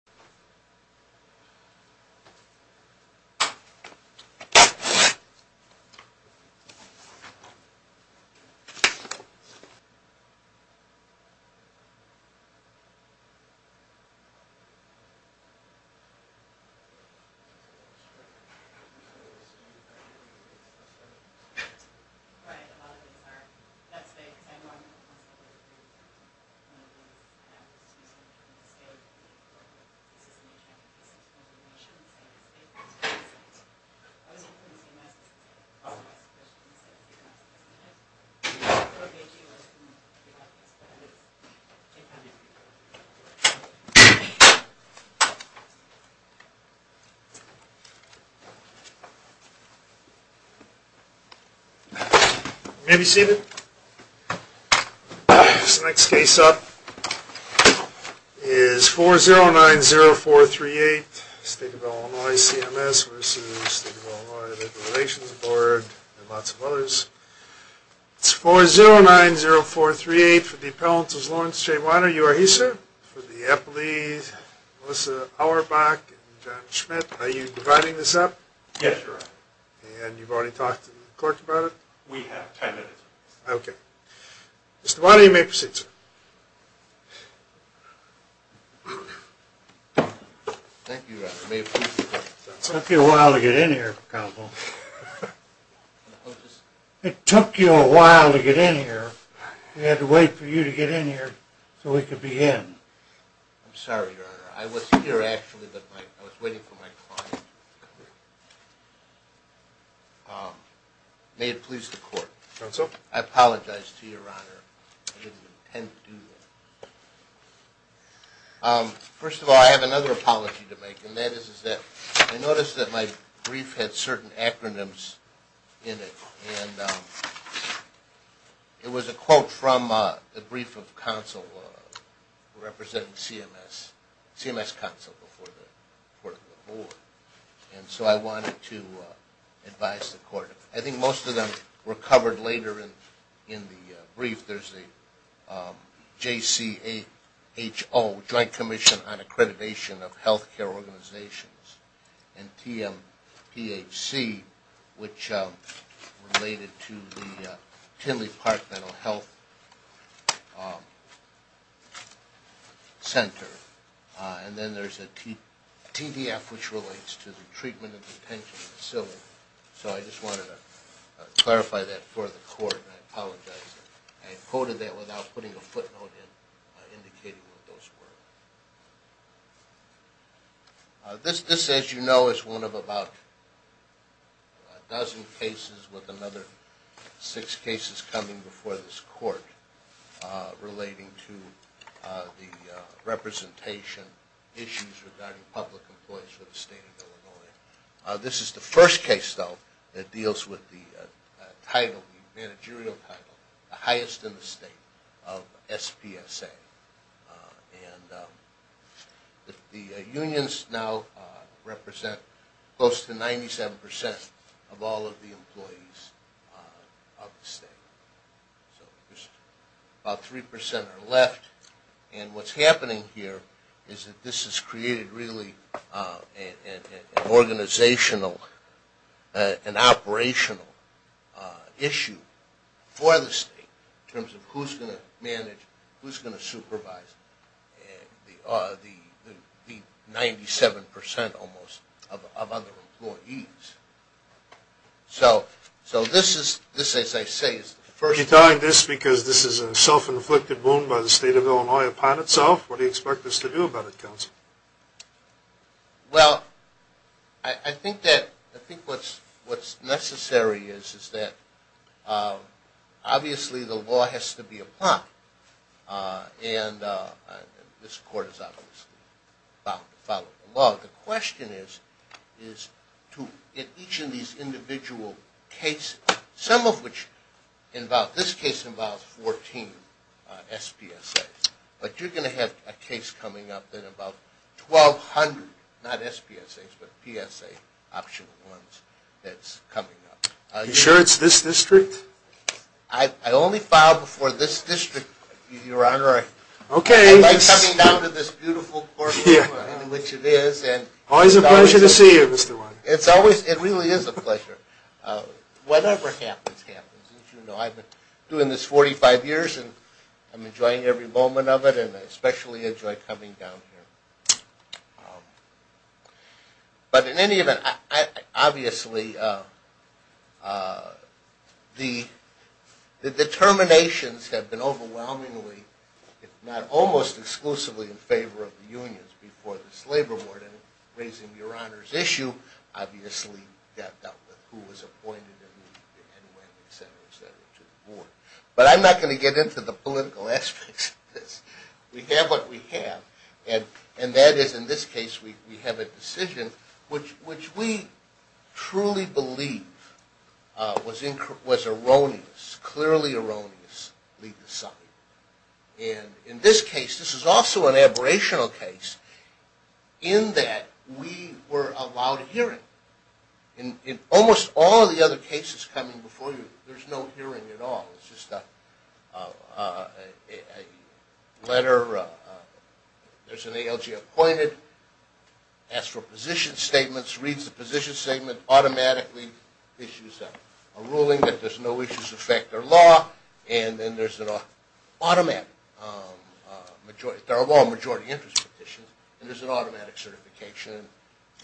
This is an emergency information and safety announcement. I would like to inform the staff that we have a special incident tonight. We would like to make you responsible for the upcoming study. Thank you. You may be seated. This next case up is 4090438 State of Illinois CMS v. State of Illinois Labor Relations Board and lots of others. It's 4090438 for the appellants as Lawrence J. Weiner. You are here sir? For the appellees Melissa Auerbach and John Schmidt. Are you dividing this up? Yes sir. And you've already talked to the clerk about it? We have. Okay. Mr. Weiner you may proceed sir. Thank you your honor. It took you a while to get in here. It took you a while to get in here. We had to wait for you to get in here so we could begin. I'm sorry your honor. I was here actually. I was waiting for my client. May it please the court. I apologize to your honor. I didn't intend to do that. First of all I have another apology to make. I noticed that my brief had certain acronyms in it. It was a quote from the brief of counsel representing CMS. CMS counsel before the court of the board. So I wanted to advise the court. I think most of them were covered later in the brief. There's the JCHO, Joint Commission on Accreditation of Healthcare Organizations and TMPHC which related to the Tinley Park Mental Health Center. And then there's a TDF which relates to the Treatment and Detention Facility. So I just wanted to clarify that for the court. I apologize. I quoted that without putting a footnote in indicating what those were. This as you know is one of about a dozen cases with another six cases coming before this court relating to the representation issues regarding public employees for the state of Illinois. This is the first case though that deals with the title, the managerial title, the highest in the state of SPSA. And the unions now represent close to 97% of all of the state. About 3% are left. And what's happening here is that this has created really an organizational and operational issue for the state in terms of who's going to manage, who's going to supervise the 97% almost of other employees. So this as I say is the first... Are you telling this because this is a self-inflicted wound by the state of Illinois upon itself? What do you expect us to do about it, counsel? Well, I think that, I think what's necessary is that obviously the law has to be applied. And this court is obviously about to follow the law. The question is to each of these individual cases, some of which involve, this case involves 14 SPSAs. But you're going to have a case coming up that about 1,200, not SPSAs, but PSA optional ones that's coming up. Are you sure it's this district? I only filed before this district, Your Honor. Okay. I like coming down to this beautiful courtroom in which it is. Always a pleasure to see you, Mr. Weiner. It's always, it really is a pleasure. Whatever happens, happens. As you know, I've been doing this 45 years and I'm enjoying every moment of it and I especially enjoy coming down here. But in any event, obviously the determinations have been overwhelmingly, if not almost exclusively in favor of raising Your Honor's issue, obviously got dealt with. Who was appointed and when, et cetera, et cetera, to the board. But I'm not going to get into the political aspects of this. We have what we have and that is in this case we have a decision which we truly believe was erroneous, clearly erroneously decided. And in this case, this is also an aberrational case, in that we were allowed a hearing. In almost all of the other cases coming before you, there's no hearing at all. It's just a letter, there's an ALG appointed, asks for position statements, reads the position statement, automatically issues a ruling that there's no issues of fact or law and then there's an automatic majority interest petition and there's an automatic certification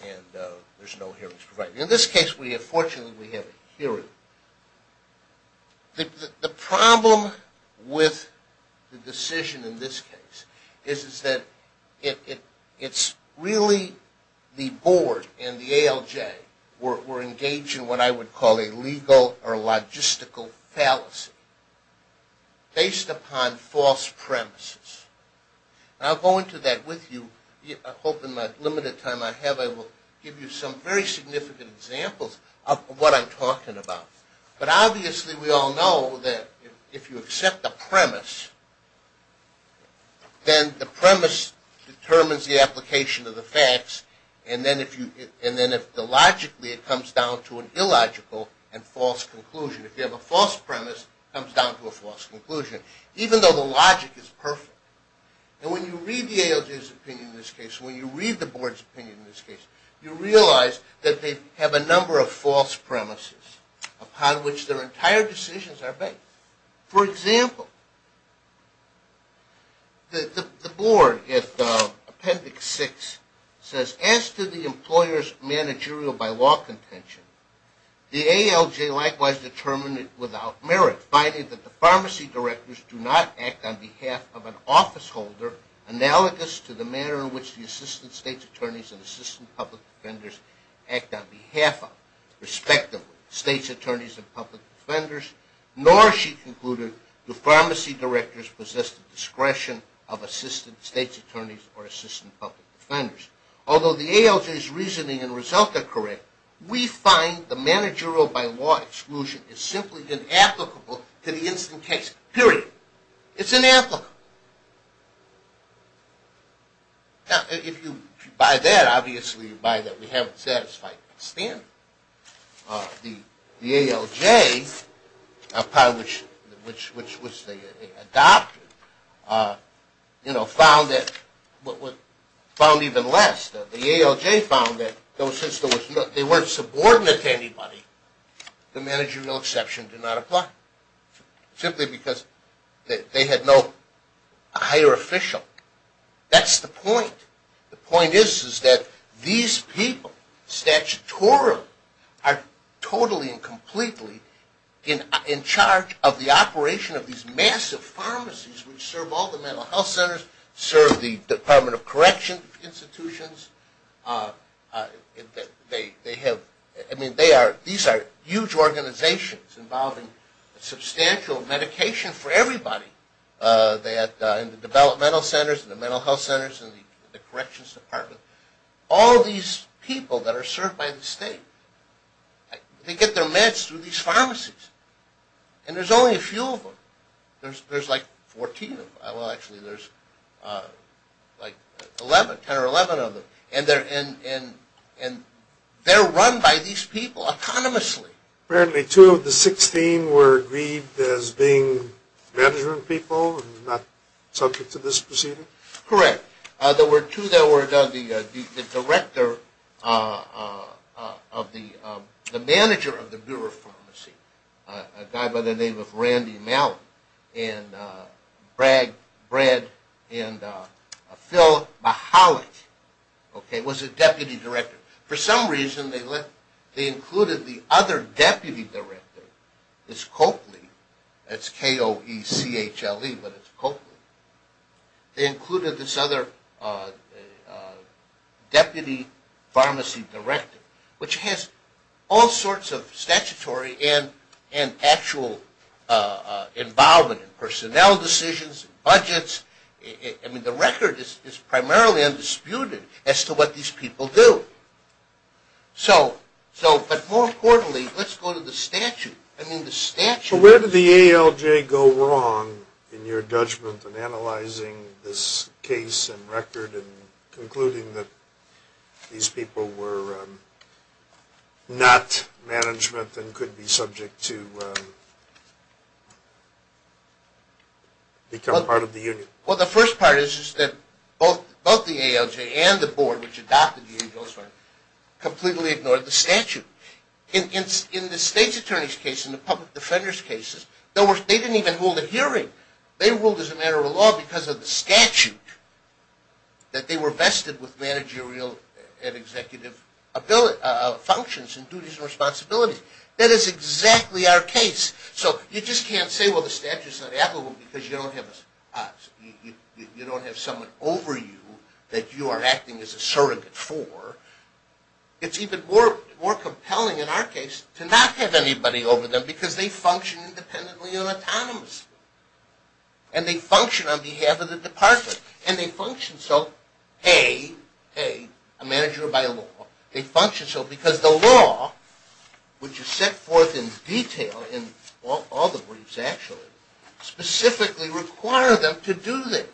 and there's no hearings provided. In this case fortunately we have a hearing. The problem with the decision in this case is that it's really the board and the ALJ were engaged in what I would call a legal or logistical fallacy based upon false premises. And I'll go into that with you. I hope in my limited time I have I will give you some very significant examples of what I'm talking about. But obviously we all know that if you accept a premise, then the premise determines the application of the facts and then if you have a false premise, it comes down to a false conclusion. Even though the logic is perfect. And when you read the ALJ's opinion in this case, when you read the board's opinion in this case, you realize that they have a number of false premises upon which their entire decisions are based. For example, the board in Appendix 6 says, as to the employer's managerial by law contention, the ALJ likewise determined it without merit, finding that the pharmacy directors do not act on behalf of an officeholder analogous to the manner in which the assistant state's attorneys and assistant public defenders act on behalf of, respectively, state's attorneys and public defenders, nor, she concluded, do pharmacy directors possess the discretion of assistant state's attorneys or assistant public defenders. Although the ALJ's reasoning and result are correct, we find the managerial by law exclusion is simply inapplicable to the instant case. Period. It's inapplicable. If you buy that, obviously you buy that we haven't satisfied the standard. The ALJ, which was the adopter, found even less. The ALJ found that since they weren't subordinate to anybody, the managerial exception did not apply. Simply because they had no higher official. That's the point. The point is that these people, statutorily, are totally and completely in charge of the operation of these massive pharmacies which serve all the mental health centers, serve the Department of Correction Institutions. These are huge organizations involving substantial medication for everybody in the developmental centers, in the mental health centers, in the corrections department. All these people that are served by the state, they get their meds through these pharmacies. And there's only a few of them. There's like 14 of them. Well, actually, there's like 10 or 11 of them. And they're run by these people autonomously. Apparently two of the 16 were agreed as being management people and not subject to this proceeding? Correct. There were two that were the director of the manager of the Bureau of Pharmacy, a guy by the name of Randy Mallet. And Brad and Phil Mahalik was the deputy director. For some reason, they included the other deputy director, this Coakley, that's K-O-E-C-H-L-E, but it's Coakley. They included this other deputy pharmacy director, which has all sorts of statutory and actual involvement in personnel decisions, budgets. I mean, the record is primarily undisputed as to what these people do. So, but more importantly, let's go to the statute. I mean, the statute... Well, where did the ALJ go wrong in your judgment in analyzing this case and record and concluding that these people were not management and could be become part of the union? Well, the first part is that both the ALJ and the board, which adopted the U.N. Bill of Rights, completely ignored the statute. In the state's attorney's case, in the public defender's cases, they didn't even hold a hearing. They ruled as a matter of law because of the statute that they were vested with managerial and executive functions and duties and responsibilities. That is exactly our case. So you just can't say, well, the statute's not applicable because you don't have us. You don't have someone over you that you are acting as a surrogate for. It's even more compelling in our case to not have anybody over them because they function independently and autonomously. And they function on behalf of the department. And they function so, hey, hey, a manager by law, they function so because the law which is set forth in detail in all the briefs actually, specifically require them to do this.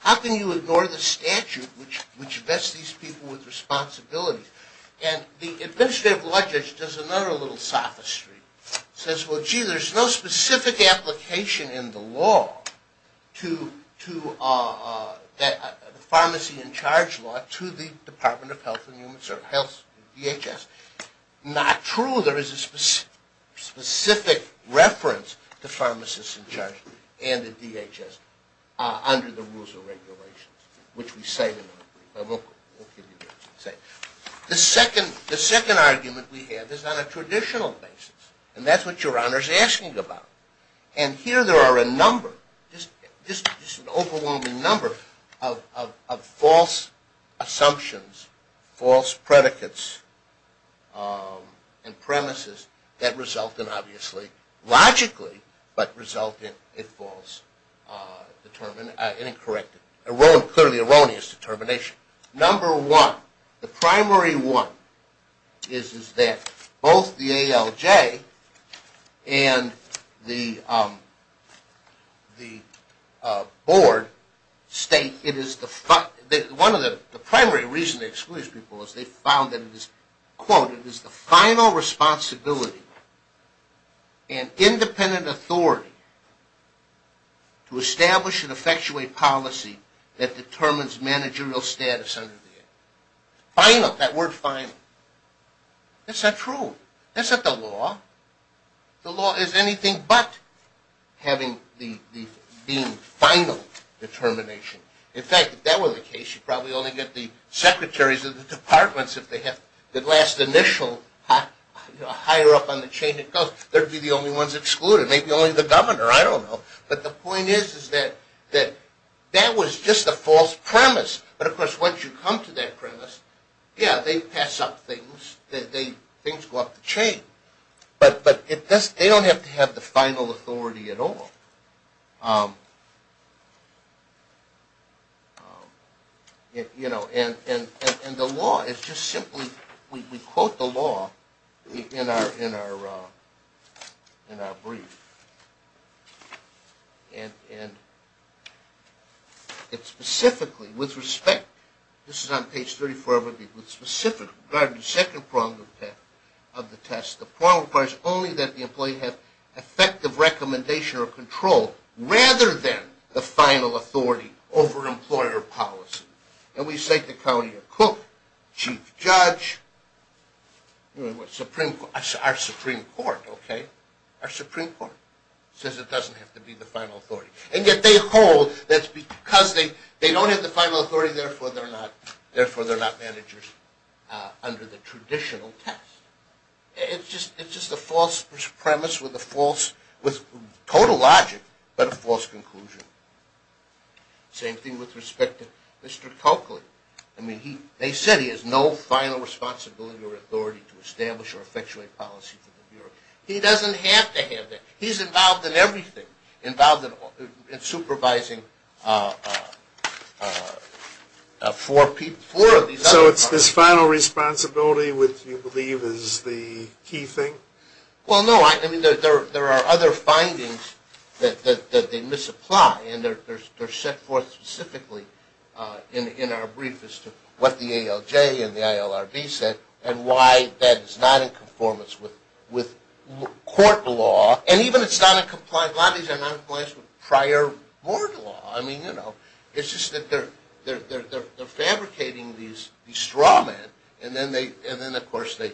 How can you ignore the statute which vests these people with responsibilities? And the administrative law judge does another little sophistry. He says, well, gee, there's no specific application in the law to the pharmacy in charge law to the Department of Health and Human Services, DHS. Not true. There is a specific reference to pharmacists in charge and the DHS under the rules and regulations, which we say. The second argument we have is on a traditional basis. And that's what Your Honor is asking about. And here there are a number, just an overwhelming number of false assumptions, false predicates and premises that result in obviously, logically, but result in a false and incorrect, clearly erroneous determination. Number one, the primary one is that both the ALJ and the Board state it is the, one of the primary reasons they exclude these people is they found that it is, quote, it is the final responsibility and independent authority to establish and effectuate policy that determines managerial status under the act. Final, that word final. That's not true. That's not the law. The law is anything but having the being final determination. In fact, if that were the case, you'd probably only get the secretaries of the departments if they have the last initial higher up on the chain it goes. They'd be the only ones excluded. Maybe only the governor. I don't know. But the point is that that was just a false premise. But of course, once you come to that premise, yeah, they pass up things. Things go up the chain. But they don't have to have the final authority at all. You know, and the law is just simply we quote the law in our brief. And it specifically, with respect, this is on page 34 of the agreement, specifically regarding the second prong of the test. The prong requires only that the employee have effective recommendation or control rather than the final authority over employer policy. And we say to Claudia Cook, chief judge, our Supreme Court, okay, our Supreme Court says it doesn't have to be the final authority. And yet they hold that's because they don't have the final authority, therefore they're not managers under the traditional test. It's just a false premise with a false, with total logic but a false conclusion. Same thing with respect to Mr. Coakley. I mean, they said he has no final responsibility or authority to establish or effectuate policy for the Bureau. He doesn't have to have that. He's involved in everything. Involved in supervising four of these other parties. So his final responsibility, which you believe is the key thing? Well, no. I mean, there are other findings that they misapply and they're set forth specifically in our brief as to what the ALJ and the ILRB said and why that is not in conformance with court law. And even it's not in compliance, a lot of these are not in compliance with prior board law. I mean, you know, it's just that they're fabricating these straw men and then, of course, they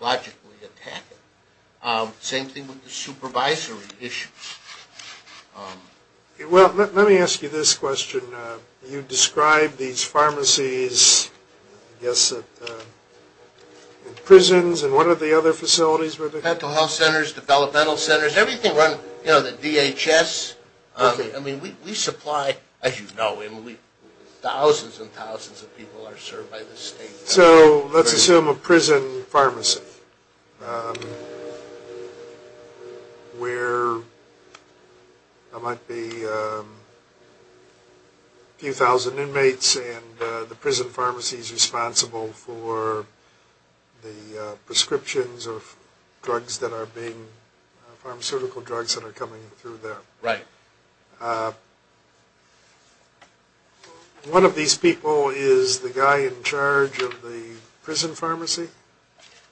logically attack it. Same thing with the supervisory issues. Well, let me ask you this question. You describe these pharmacies, I guess, and prisons and what are the other facilities? Medical health centers, developmental centers, everything around, you know, the DHS. I mean, we supply, as you know, thousands and thousands of people are served by the state. So let's assume a prison pharmacy where there might be a few thousand inmates and the prison pharmacy is responsible for the prescriptions of drugs that are being, pharmaceutical drugs that are coming through there. Right. One of these people is the guy in charge of the prison pharmacy?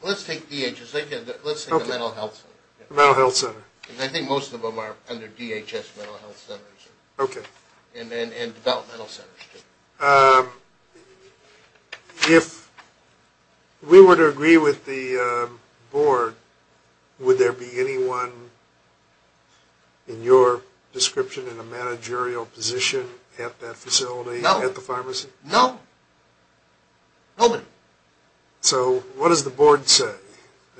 Let's take DHS. Let's take the mental health center. Mental health center. I think most of them are under DHS mental health centers. Okay. And developmental centers too. If we were to agree with the board, would there be anyone in your description in a managerial position at that facility? No. At the pharmacy? No. Nobody. So what does the board say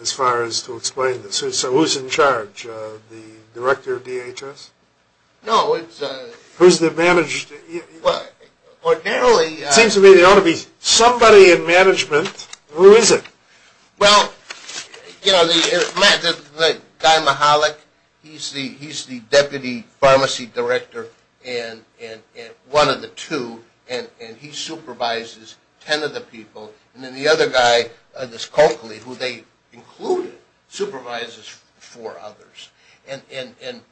as far as to explain this? So who's in charge? The director of DHS? No. Who's the manager? Well, ordinarily... It seems to me there ought to be somebody in management. Who is it? Well, you know, the guy Mahalik, he's the deputy pharmacy director and one of the two and he supervises ten of the people and then the other guy, this Coakley, who they included, supervises four others.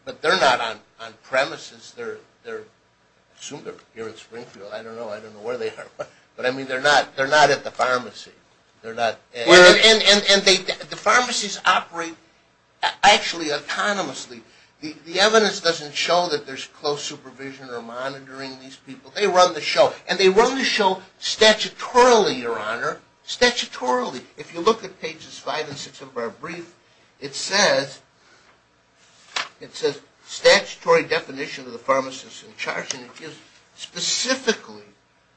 But they're not on premises. I assume they're here in Springfield. I don't know. I don't know where they are. But I mean, they're not at the pharmacy. And the pharmacies operate actually autonomously. The evidence doesn't show that there's close supervision or monitoring these people. They run the show. And they run the show statutorily, Your Honor. Statutorily. If you look at pages 5 and 6 of our brief, it says statutory definition of the pharmacist in charge and it gives specifically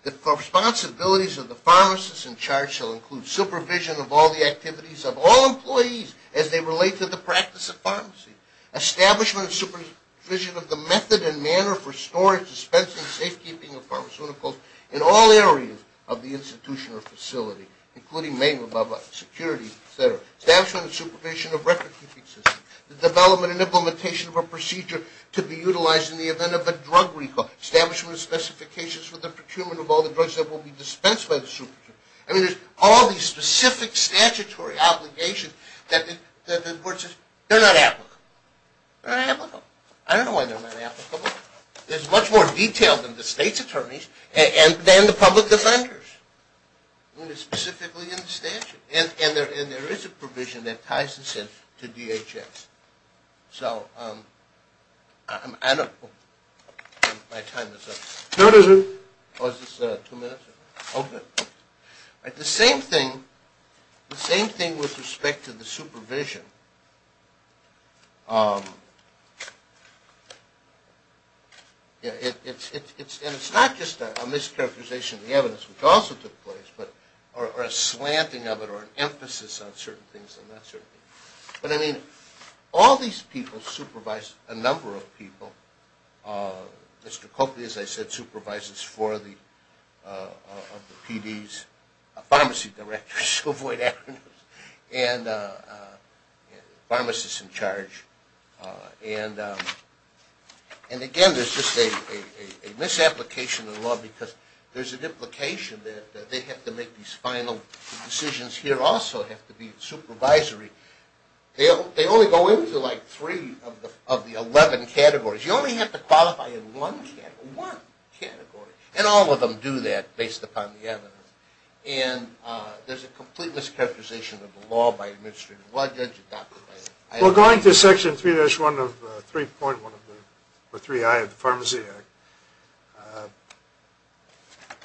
the responsibilities of the pharmacist in charge shall include supervision of all the activities of all employees as they relate to the practice of pharmacy. Establishment and supervision of the method and manner for storage, dispensing, safekeeping of pharmaceuticals in all areas of the institution or facility, including main security, etc. Establishment and supervision of record-keeping systems. The development and implementation of a procedure to be utilized in the event of a drug recall. Establishment of the procurement of all the drugs that will be dispensed by the supervisor. I mean, there's all these specific statutory obligations that the court says they're not applicable. They're not applicable. I don't know why they're not applicable. It's much more detailed than the state's attorneys and than the public defenders. I mean, it's specifically in the statute. And there is a provision that ties this in to DHS. So, I don't know if my time is up. The same thing with respect to the supervision. It's not just a mischaracterization of the evidence, which also took place, or a slanting of it or an emphasis on certain things. But I mean, all these people supervise a number of people. Mr. Coakley, as I said, supervises four of the PDs, pharmacy directors to avoid acronyms, and pharmacists in charge. And again, there's just a misapplication of the law because there's an implication that they have to make these final decisions here also have to be supervisory. They only go into like three of the 11 categories. You only have to qualify in one category. And all of them do that based upon the evidence. And there's a complete mischaracterization of the law by administrators. Well, I judge it that way. Well, going to section 3-1 of 3.1 of the 3i of the Pharmacy Act,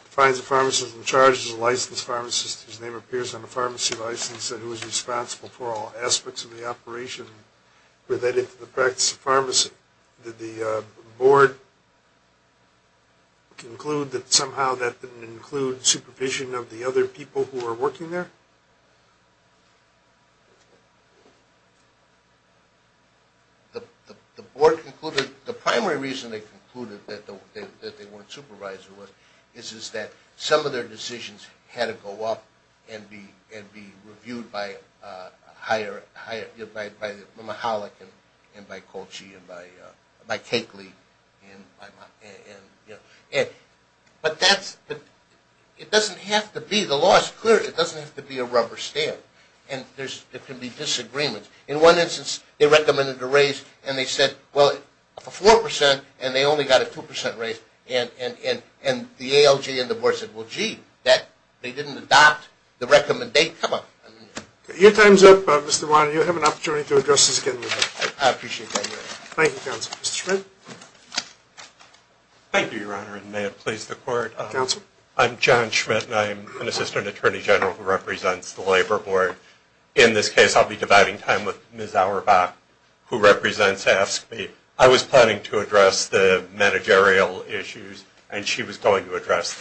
defines a pharmacist in charge as a licensed pharmacist whose name appears on the pharmacy license and who is responsible for all aspects of the operation related to the practice of pharmacy. Did the board conclude that somehow that didn't include supervision of the other people who were working there? The board concluded, the primary reason they concluded that they weren't supervising was, is that some of their decisions had to go up and be reviewed by Mahalik and by Colchi and by Kakely. But that's, it doesn't have to be, the law is clear, it doesn't have to be a rubber stamp. And there can be disagreements. In one instance, they recommended a raise and they said, well, for 4% and they only got a 2% raise. And the ALJ and the board didn't adopt the recommendation. Your time's up, Mr. Weiner. You have an opportunity to address this again. Thank you, counsel. Mr. Schmidt. Thank you, your honor, and may it please the court. I'm John Schmidt and I'm an assistant attorney general who represents the labor board. In this case, I'll be dividing time with Ms. Auerbach, who represents AFSCME. I was planning to address the managerial issues and she was going to address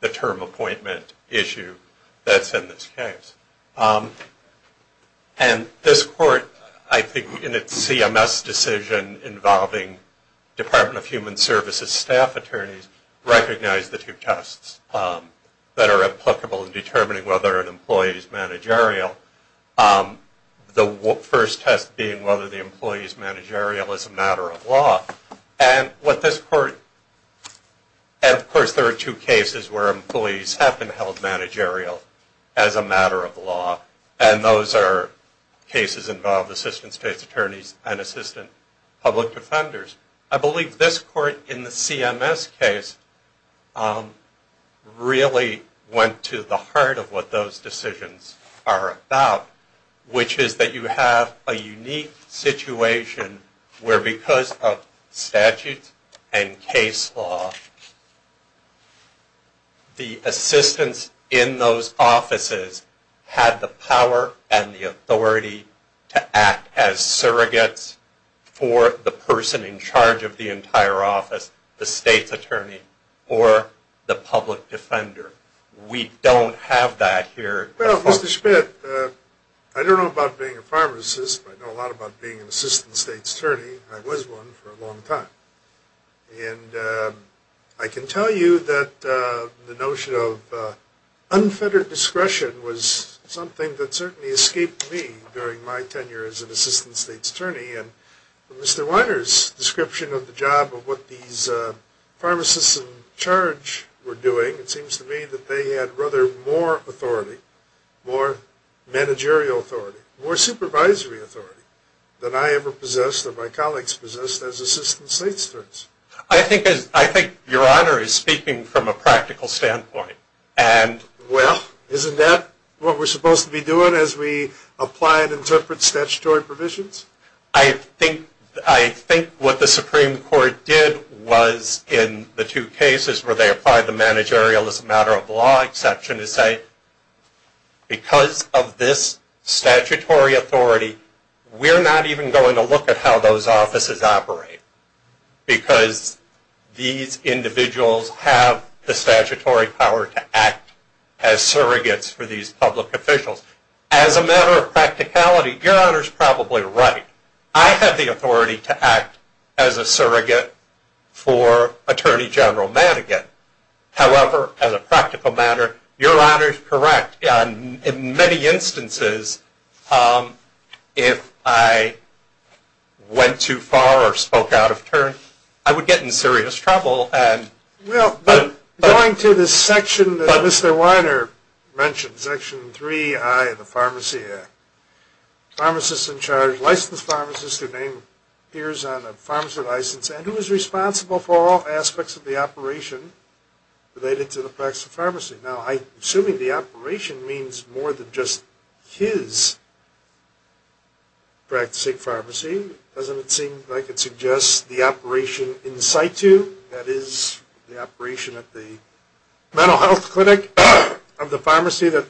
the term appointment issue that's in this case. And this court, I think, in its CMS decision involving Department of Human Services staff attorneys, recognized the two tests that are applicable in determining whether an employee is managerial. The first test being whether the employee is managerial as a matter of law. And what this court, and of course there are two cases where employees have been held managerial as a matter of law. And those are cases involving assistant state attorneys and assistant public defenders. I believe this court in the CMS case really went to the heart of what those decisions are about, which is that you have a unique situation where because of case law, the assistants in those offices had the power and the authority to act as surrogates for the person in charge of the entire office, the state's attorney or the public defender. We don't have that here. Well, Mr. Schmidt, I don't know about being a pharmacist, but I know a lot about being an assistant state attorney. I was one for a long time. And I can tell you that the notion of unfettered discretion was something that certainly escaped me during my tenure as an assistant state attorney. And from Mr. Weiner's description of the job of what these pharmacists in charge were doing, it seems to me that they had rather more authority, more managerial authority, more supervisory authority than I ever possessed or my colleagues possessed as assistant state attorneys. I think Your Honor is speaking from a practical standpoint. Well, isn't that what we're supposed to be doing as we apply and interpret statutory provisions? I think what the Supreme Court did was in the two cases where they applied the managerial as a matter of law exception is say because of this statutory authority we're not even going to look at how those offices operate because these individuals have the statutory power to act as surrogates for these public officials. As a matter of practicality, Your Honor is probably right. I have the authority to act as a surrogate for Attorney General Madigan. However, as a practical matter, Your Honor is correct. In many instances if I went too far or spoke out of turn, I would get in serious trouble. Well, going to the section that Mr. Weiner mentioned, Section 3I of the Pharmacy Act, pharmacists in charge, licensed pharmacists, their name appears on the pharmacy license, and who is responsible for all aspects of the operation related to the practice of pharmacy. Now, I'm assuming the operation means more than just his practicing pharmacy. Doesn't it seem like it suggests the operation in situ? That is, the operation at the mental health clinic of the pharmacy that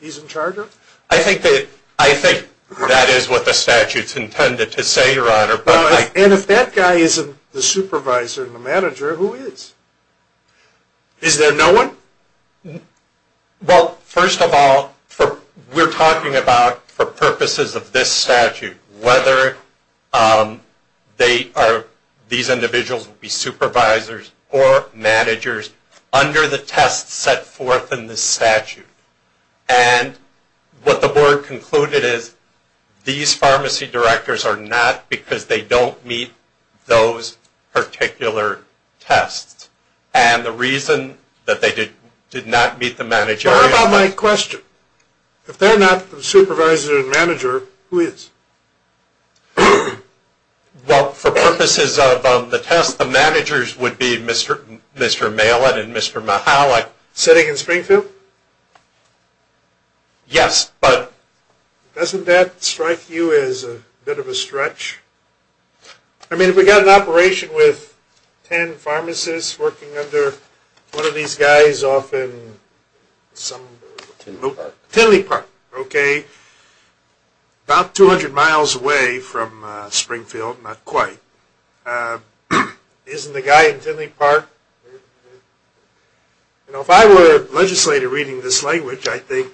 he's in charge of? I think that is what the statute's intended to say, Your Honor. And if that guy isn't the supervisor and the manager, who is? Is there no one? Well, first of all, we're talking about, for purposes of this statute, whether these individuals will be supervisors or managers under the tests set forth in this statute. And what the Board concluded is these pharmacy directors are not because they don't meet those particular tests. And the reason that they did not meet the managerial... How about my question? If they're not the supervisor and manager, who is? Well, for purposes of the tests, the managers would be Mr. Malin and Mr. Mahalik. Sitting in Springfield? Yes, but... Doesn't that strike you as a bit of a stretch? I mean, if we've got an operation with ten pharmacists working under one of these guys off in some... Tinley Park. Tinley Park. Okay. About 200 miles away from Springfield. Not quite. Isn't the guy in Tinley Park? You know, if I were a legislator reading this language, I'd think,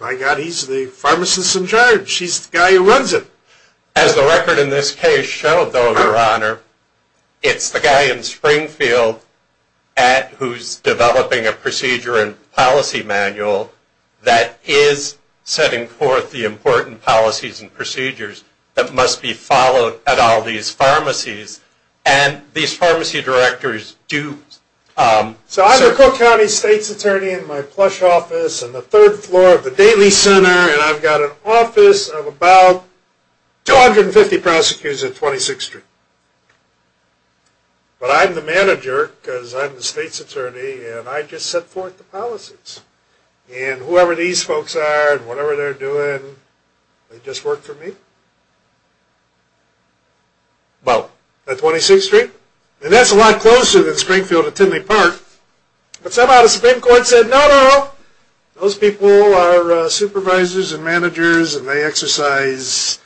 my God, he's the pharmacist in charge. He's the guy who runs it. As the record in this case showed, though, Your Honor, it's the guy in Springfield who's developing a procedure and policy manual that is setting forth the important policies and procedures that must be followed at all these pharmacies. And these pharmacy directors do... So I'm a Cook County State's Attorney in my plush office on the third floor of the Daly Center, and I've got an office of about 250 prosecutors at 26th Street. But I'm the manager, because I'm the State's Attorney, and I just set forth the policies. And whoever these folks are and whatever they're doing, they just work for me. Well, at 26th Street, and that's a lot closer than Springfield to Tinley Park, but somehow the Supreme Court said no, no, no. Those people are supervisors and managers and they exercise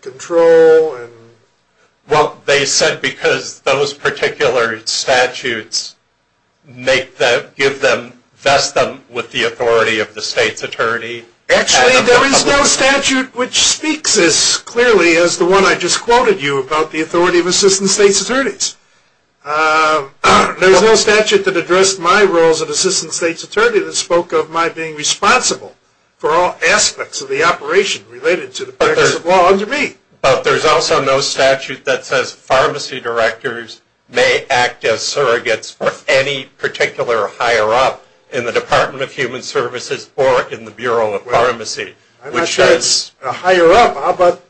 control. Well, they said because those particular statutes make them, give them, vest them with the authority of the State's Attorney. Actually, there is no statute which speaks as clearly as the one I just quoted you about, the authority of Assistant State's Attorneys. There's no statute that addressed my roles as Assistant State's Attorney that spoke of my being responsible for all aspects of the operation related to the practice of law under me. But there's also no statute that says pharmacy directors may act as surrogates for any particular higher-up in the Department of Human Services or in the Bureau of Pharmacy. I'm not sure it's a higher-up. How about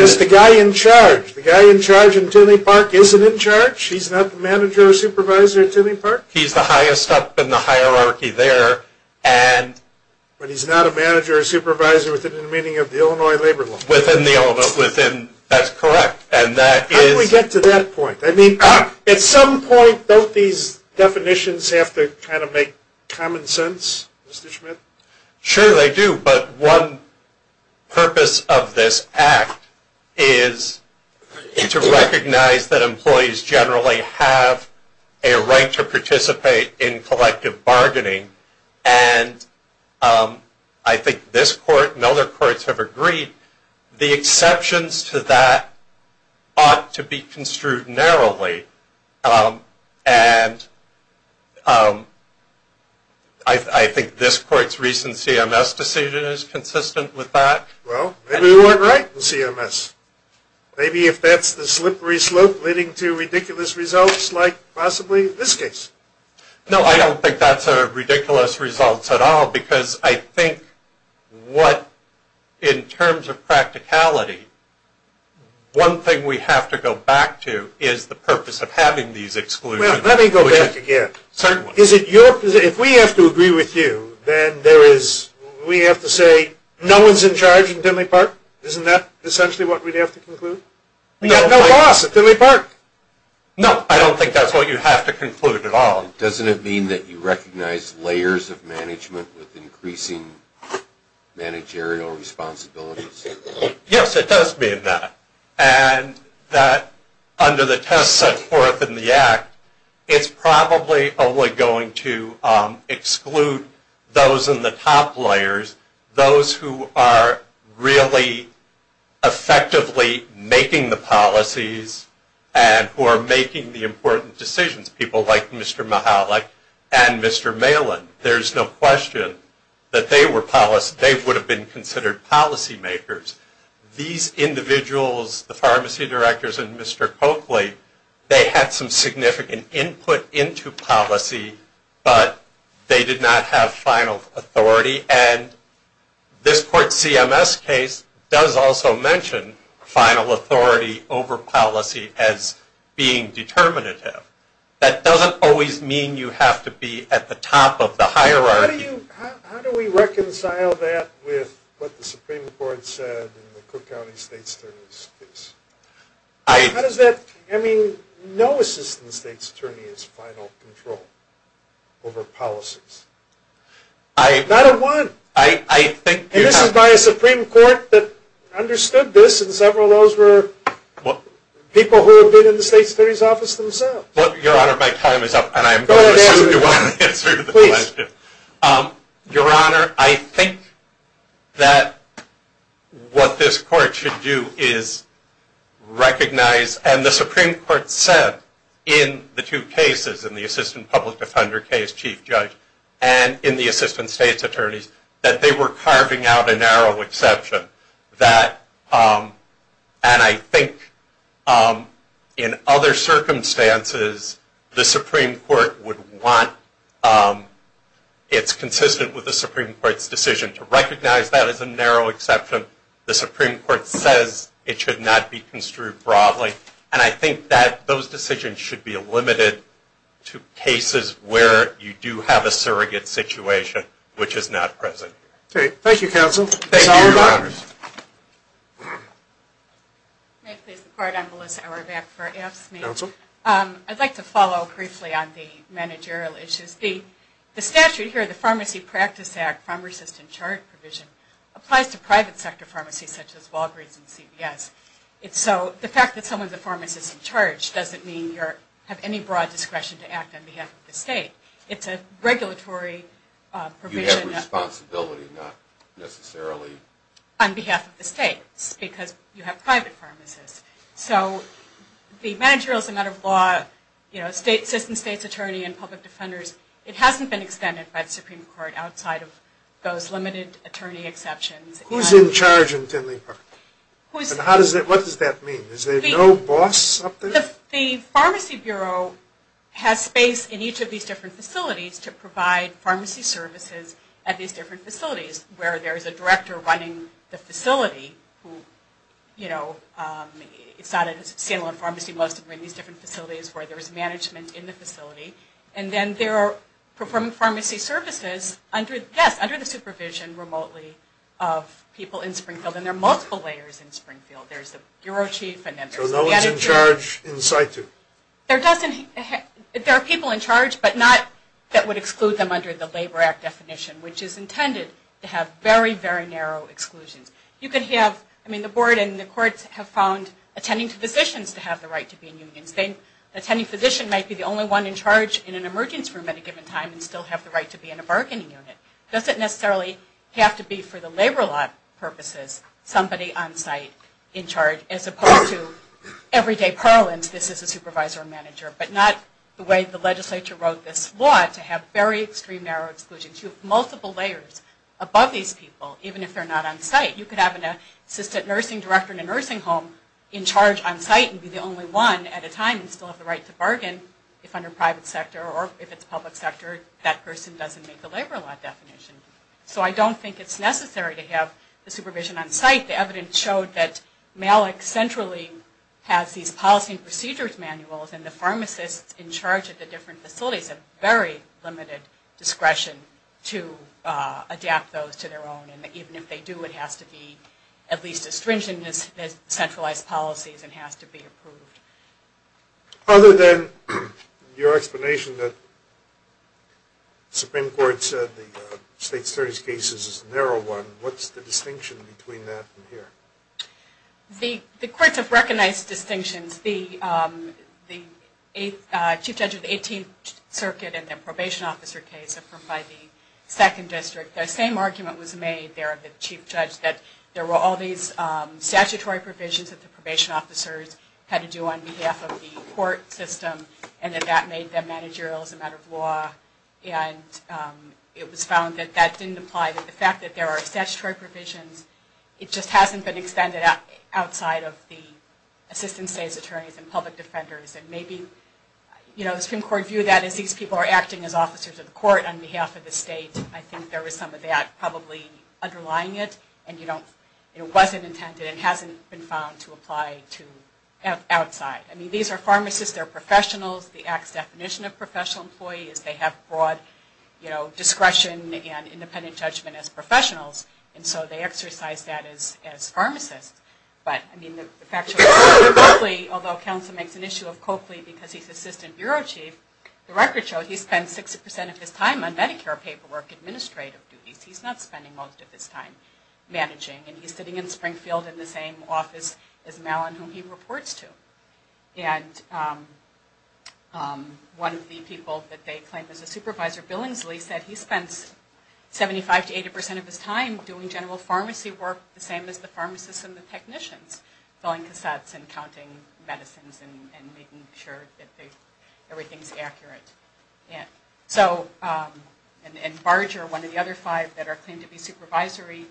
just the guy in charge? The guy in charge in Tinley Park isn't in charge? He's not the manager or supervisor in Tinley Park? He's the highest up in the department. But he's not a manager or supervisor within the meaning of the Illinois Labor Law? Within the Illinois, that's correct. How did we get to that point? I mean, at some point, don't these definitions have to kind of make common sense, Mr. Schmidt? Sure they do, but one purpose of this Act is to recognize that employees generally have a right to participate in collective bargaining. And I think this court and other courts have agreed the exceptions to that ought to be construed narrowly. And I think this court's recent CMS decision is consistent with that. Well, maybe we weren't right in CMS. Maybe if that's the slippery slope leading to ridiculous results like possibly this case. No, I don't think that's ridiculous results at all because I think what, in terms of practicality, one thing we have to go back to is the purpose of having these exclusions. If we have to agree with you, then there is we have to say no one's in charge in Tinley Park? Isn't that essentially what we'd have to conclude? We have no laws at Tinley Park. No, I don't think that's what you have to conclude at all. Doesn't it mean that you recognize layers of management with increasing managerial responsibilities? Yes, it does mean that. And that under the test set forth in the Act, it's probably only going to exclude those in the top layers, those who are really effectively making the policies and who are making the important decisions, people like Mr. Mahalik and Mr. Malin. There's no question that they were they would have been considered policy makers. These individuals, the pharmacy directors and Mr. Coakley, they had some significant input into policy, but they did not have final authority. And this court CMS case does also mention final authority over policy as being determinative. That doesn't always mean you have to be at the top of the hierarchy. How do we reconcile that with what the Supreme Court said in the Cook County State's Attorney's case? I mean, no assistant state's attorney is final control over policies. Not a one. And this is by a Supreme Court that understood this and several of those were people who have been in the state's attorney's office themselves. Your Honor, my time is up and I'm going to assume you want to answer the question. Your Honor, I think that what this court should do is recognize and the Supreme Court said in the two cases, in the assistant public defender case, Chief Judge, and in the assistant state's attorneys that they were carving out a narrow exception. And I think in other circumstances the Supreme Court would want it's consistent with the Supreme Court's decision to recognize that as a narrow exception. The Supreme Court says it should not be construed broadly. And I think that those decisions should be limited to cases where you do have a surrogate situation which is not present. Thank you, Your Honor. I'd like to follow briefly on the managerial issues. The statute here, the Pharmacy Practice Act, pharmacist in charge provision, applies to private sector pharmacies such as Walgreens and CVS. So the fact that someone is a pharmacist in charge doesn't mean you have any broad discretion to act on behalf of the state. It's a regulatory provision. You have responsibility not necessarily. On behalf of the states because you have private pharmacists. So the managerial is a matter of law, assistant state's attorney and public defenders. It hasn't been extended by the Supreme Court outside of those limited attorney exceptions. Who's in charge in Tinley Park? What does that mean? Is there no boss up there? The Pharmacy Bureau has space in each of these different facilities to provide pharmacy services at these different facilities where there is a director running the facility. It's not a Salem Pharmacy. Most of them are in these different facilities where there is management in the facility. And then they're performing pharmacy services under the supervision remotely of people in Springfield. And there are multiple layers in Springfield. There's the bureau chief and then there's the manager. So no one's in charge in situ? There are people in charge but not that would exclude them under the Labor Act definition which is intended to have very, very narrow exclusions. You could have, I mean the board and the courts have found attending physicians to have the right to be in unions. The attending physician might be the only one in charge in an emergency room at a given time and still have the right to be in a bargaining unit. It doesn't necessarily have to be for the labor law purposes somebody on site in charge as opposed to everyday parlance this is a supervisor and manager. But not the way the legislature wrote this law to have very extreme narrow exclusions. You have multiple layers above these people even if they're not on site. You could have an assistant nursing director in a nursing home in charge on site and be the only one at a time and still have the right to bargain if under private sector or if it's public sector that person doesn't make the labor law definition. So I don't think it's necessary to have the supervision on site. The evidence showed that Malick centrally has these policy and procedures manuals and the pharmacists in charge at the different facilities have very limited discretion to adapt those to their own and even if they do it has to be at least as stringent as centralized policies and has to be approved. Other than your explanation that the Supreme Court said the state's 30 cases is a narrow one, what's the distinction between that and here? The courts have recognized distinctions. The Chief Judge of the 18th Circuit in the probation officer case approved by the 2nd District. The same argument was made there of the Chief Judge that there were all these statutory provisions that the probation officers had to do on behalf of the court system and that that made them managerial as a matter of law and it was found that that didn't apply to the fact that there are statutory provisions. It just hasn't been extended outside of the assistant state's attorneys and public defenders and maybe the Supreme Court viewed that as these people are acting as officers of the court on behalf of the state. I think there was some of that probably underlying it and it wasn't intended and hasn't been found to apply to outside. I mean these are pharmacists, they're professionals, the act's definition of professional employee is they have broad discretion and independent judgment as professionals and so they exercise that as pharmacists. But I mean the fact that Coakley, although counsel makes an issue of Coakley because he's Assistant Bureau Chief, the record shows he spends 60% of his time on Medicare paperwork administrative duties. He's not spending most of his time managing and he's sitting in Springfield in the same office as Mallon whom he reports to. And one of the people that they claim is a supervisor, Billingsley, said he spends 75 to 80% of his time doing general pharmacy work the same as the pharmacists and the technicians, filling cassettes and counting medicines and making sure that everything's accurate. And Barger, one of the other five that are claimed to be supervisory,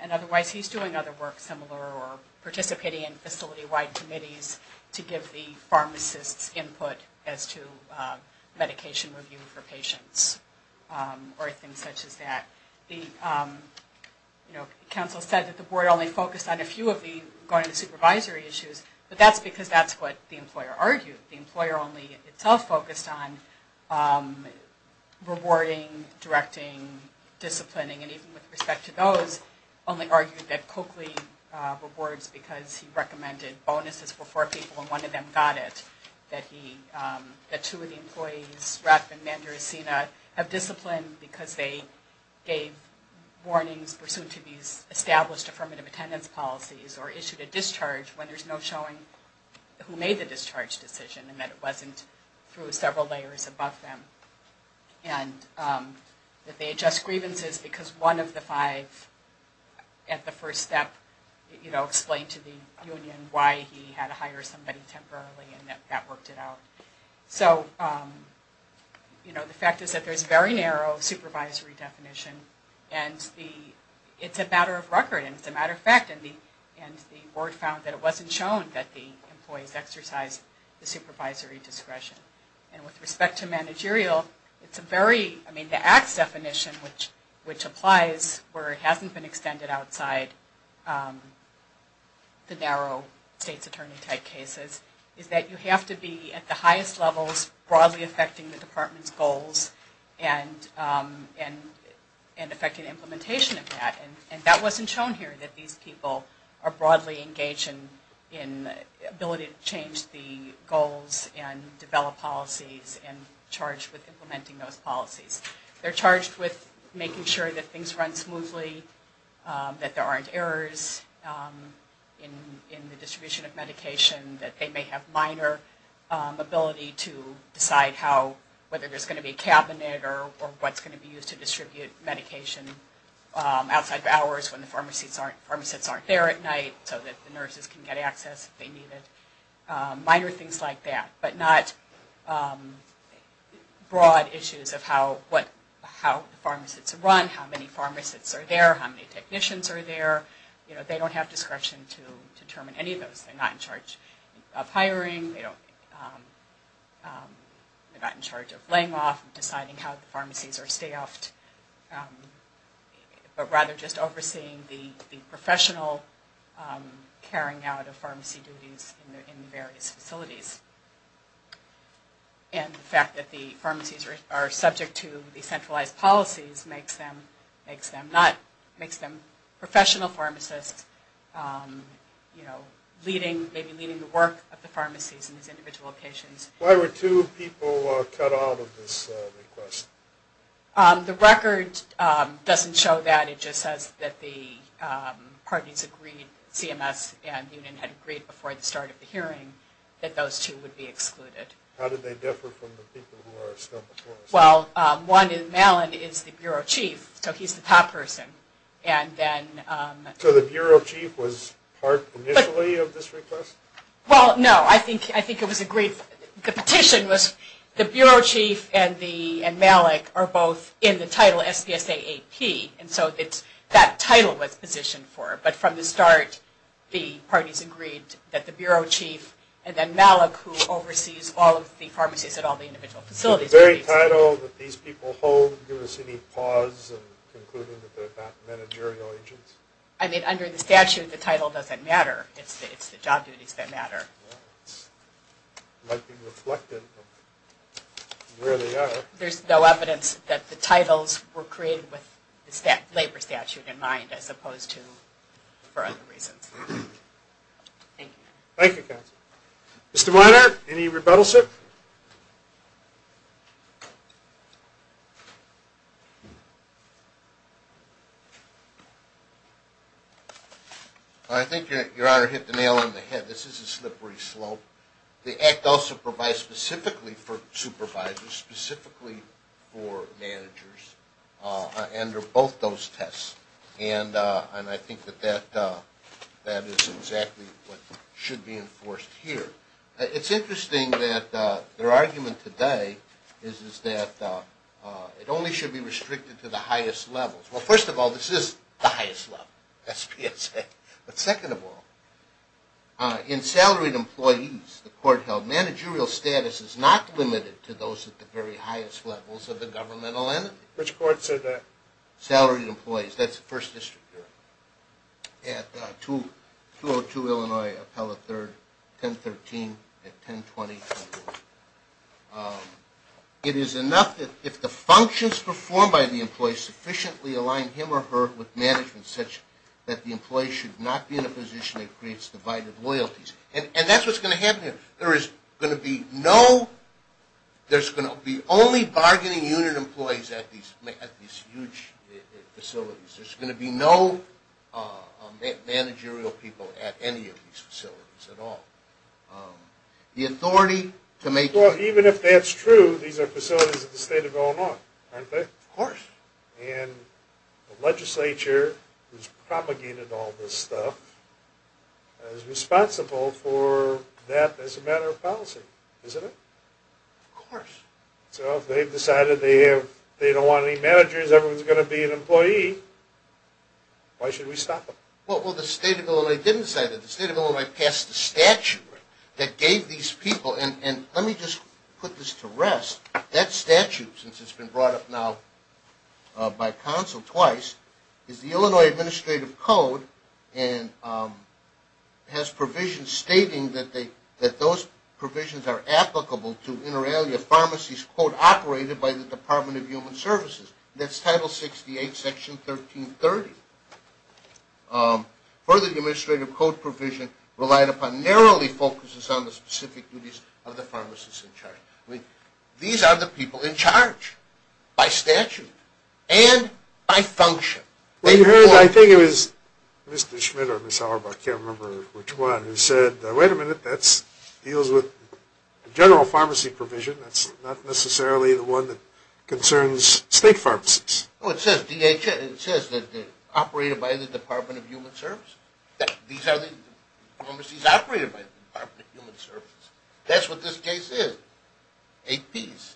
and otherwise he's doing other work similar or participating in facility-wide committees to give the pharmacists input as to medication review for patients or things such as that. Counsel said that the board only focused on a few of the going to supervisory issues but that's because that's what the employer argued. The employer only itself focused on rewarding, directing, disciplining, and even with respect to those, only argued that Coakley rewards because he recommended bonuses for four people and one of them got it. That two of the employees, Rapp and Manduricina, have disciplined because they gave warnings pursuant to these established affirmative attendance policies or issued a discharge when there's no showing who made the discharge decision and that it wasn't through several layers above them. And that they adjust grievances because one of the five at the first step explained to the union why he had to hire somebody temporarily and that worked it out. So the fact is that there's very narrow supervisory definition and it's a matter of record and it's a matter of fact and the board found that it wasn't shown that the employees exercised the supervisory discretion. And with respect to managerial, it's a very, I mean the acts definition which applies where it hasn't been extended outside the narrow state's attorney type cases is that you have to be at the highest levels broadly affecting the department's goals and affecting implementation of that and that wasn't shown here that these people are broadly engaged in ability to change the goals and develop policies and charged with implementing those policies. They're charged with making sure that things run smoothly, that there aren't errors in the distribution of medication, that they may have minor ability to decide how, whether there's going to be a cabinet or what's going to be used to distribute medication outside of hours when the pharmacists aren't there at night so that the nurses can get access if they needed, minor things like that, but not broad issues of how the pharmacists are run, how many pharmacists are there, how many technicians are there, you know, they don't have discretion to determine any of those, they're not in charge of hiring, they're not in charge of laying off, deciding how the pharmacies are staffed, but rather just overseeing the professional carrying out of pharmacy duties in the various facilities. And the fact that the pharmacies are subject to the centralized policies makes them professional pharmacists you know, leading, maybe leading the work of the pharmacies and these individual patients. Why were two people cut out of this request? The record doesn't show that, it just says that the parties agreed, CMS and Union had agreed before the start of the hearing that those two would be excluded. How did they differ from the people who are still before us? Well, one in Malin is the Bureau Chief, so he's the top person. So the Bureau Chief was part initially of this request? Well, no, I think it was agreed, the petition was, the Bureau Chief and Malik are both in the title SPSA AP, and so that title was positioned for it, but from the start the parties agreed that the Bureau Chief and then Malik who oversees all of the pharmacies at all the individual facilities. The very title that these people hold, give us any pause in concluding that they're not managerial agents? I mean, under the statute the title doesn't matter, it's the job duties that matter. It might be reflected from where they are. There's no evidence that the titles were created with the labor statute in mind as opposed to for other reasons. Thank you. Thank you, counsel. Mr. Meiner, any rebuttals, sir? I think your Honor hit the nail on the head. This is a slippery slope. The Act also provides specifically for supervisors, specifically for managers, under both those tests, and I think that that is exactly what should be enforced here. It's interesting that their argument today is that it only should be restricted to the highest levels. Well, first of all, this is the highest level, SPSA, but second of all, in salaried employees, the court held, managerial status is not limited to those at the very highest levels of the governmental entity. Which court said that? Salaried employees. That's the First District here. At 202 Illinois, appellate third, 1013 at 1020. It is enough that if the functions performed by the employee sufficiently align him or her with management such that the employee should not be in a position that creates divided loyalties. And that's what's going to happen here. There is going to be no, there's going to be only bargaining unit employees at these huge facilities. There's going to be no managerial people at any of these facilities at all. The authority to make... Well, even if that's true, these are facilities at the State of Illinois, aren't they? Of course. And the legislature has propagated all this stuff, is responsible for that as a matter of policy, isn't it? Of course. So if they've decided they don't want any managers, everyone's going to be an employee, why should we stop them? Well, the State of Illinois didn't say that. The State of Illinois passed a statute that gave these people, and let me just put this to rest, that statute, since it's been brought up now by counsel twice, is the Illinois Administrative Code and has provisions stating that those provisions are applicable to inter alia pharmacies quote, operated by the Department of Human Services. That's Title 68 Section 1330. Further Administrative Code provision relied upon narrowly focuses on the specific duties of the pharmacist in charge. These are the people in charge by statute and by function. Well, you heard, I think it was Mr. Schmidt or Ms. Auerbach, I can't remember which one, who said, wait a minute, that deals with general pharmacy provision, that's not necessarily the one that concerns state pharmacies. Well, it says DHS, it says that they're operated by the Department of Human Services. These are the pharmacies operated by the Department of Human Services. That's what this case is. APs.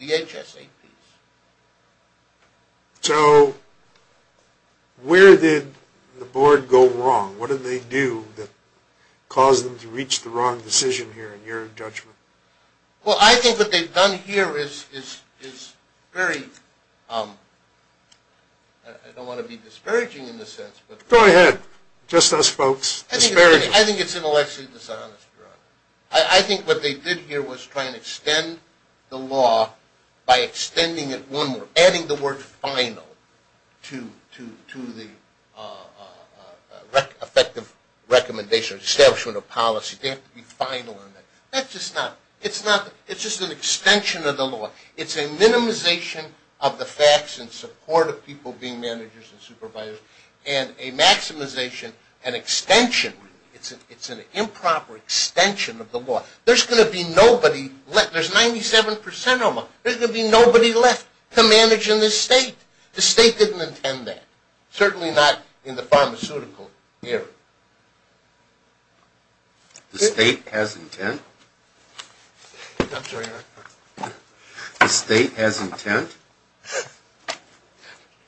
DHS APs. So, where did the board go wrong? What did they do that caused them to reach the wrong decision here, in your judgment? Well, I think what they've done here is very I don't want to be disparaging in the sense, but Go ahead, just us folks. Disparaging. I think it's intellectually dishonest, Your Honor. I think what they did here was try and extend the law by extending it one more, adding the word final to the effective recommendation or establishment of policy. They have to be final on that. That's just not, it's not, it's just an extension of the law. It's a minimization of the facts in support of people being managers and supervisors, and a maximization, an extension, it's an improper extension of the law. There's going to be nobody left. There's 97% of them. There's going to be nobody left to manage in this state. The state didn't intend that. Certainly not in the pharmaceutical area. The state has intent? I'm sorry, Your Honor. The state has intent?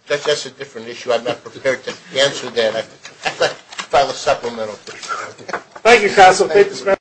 That's a different issue. I'm not prepared to answer that. I'd like to file a supplemental. Thank you, Castle.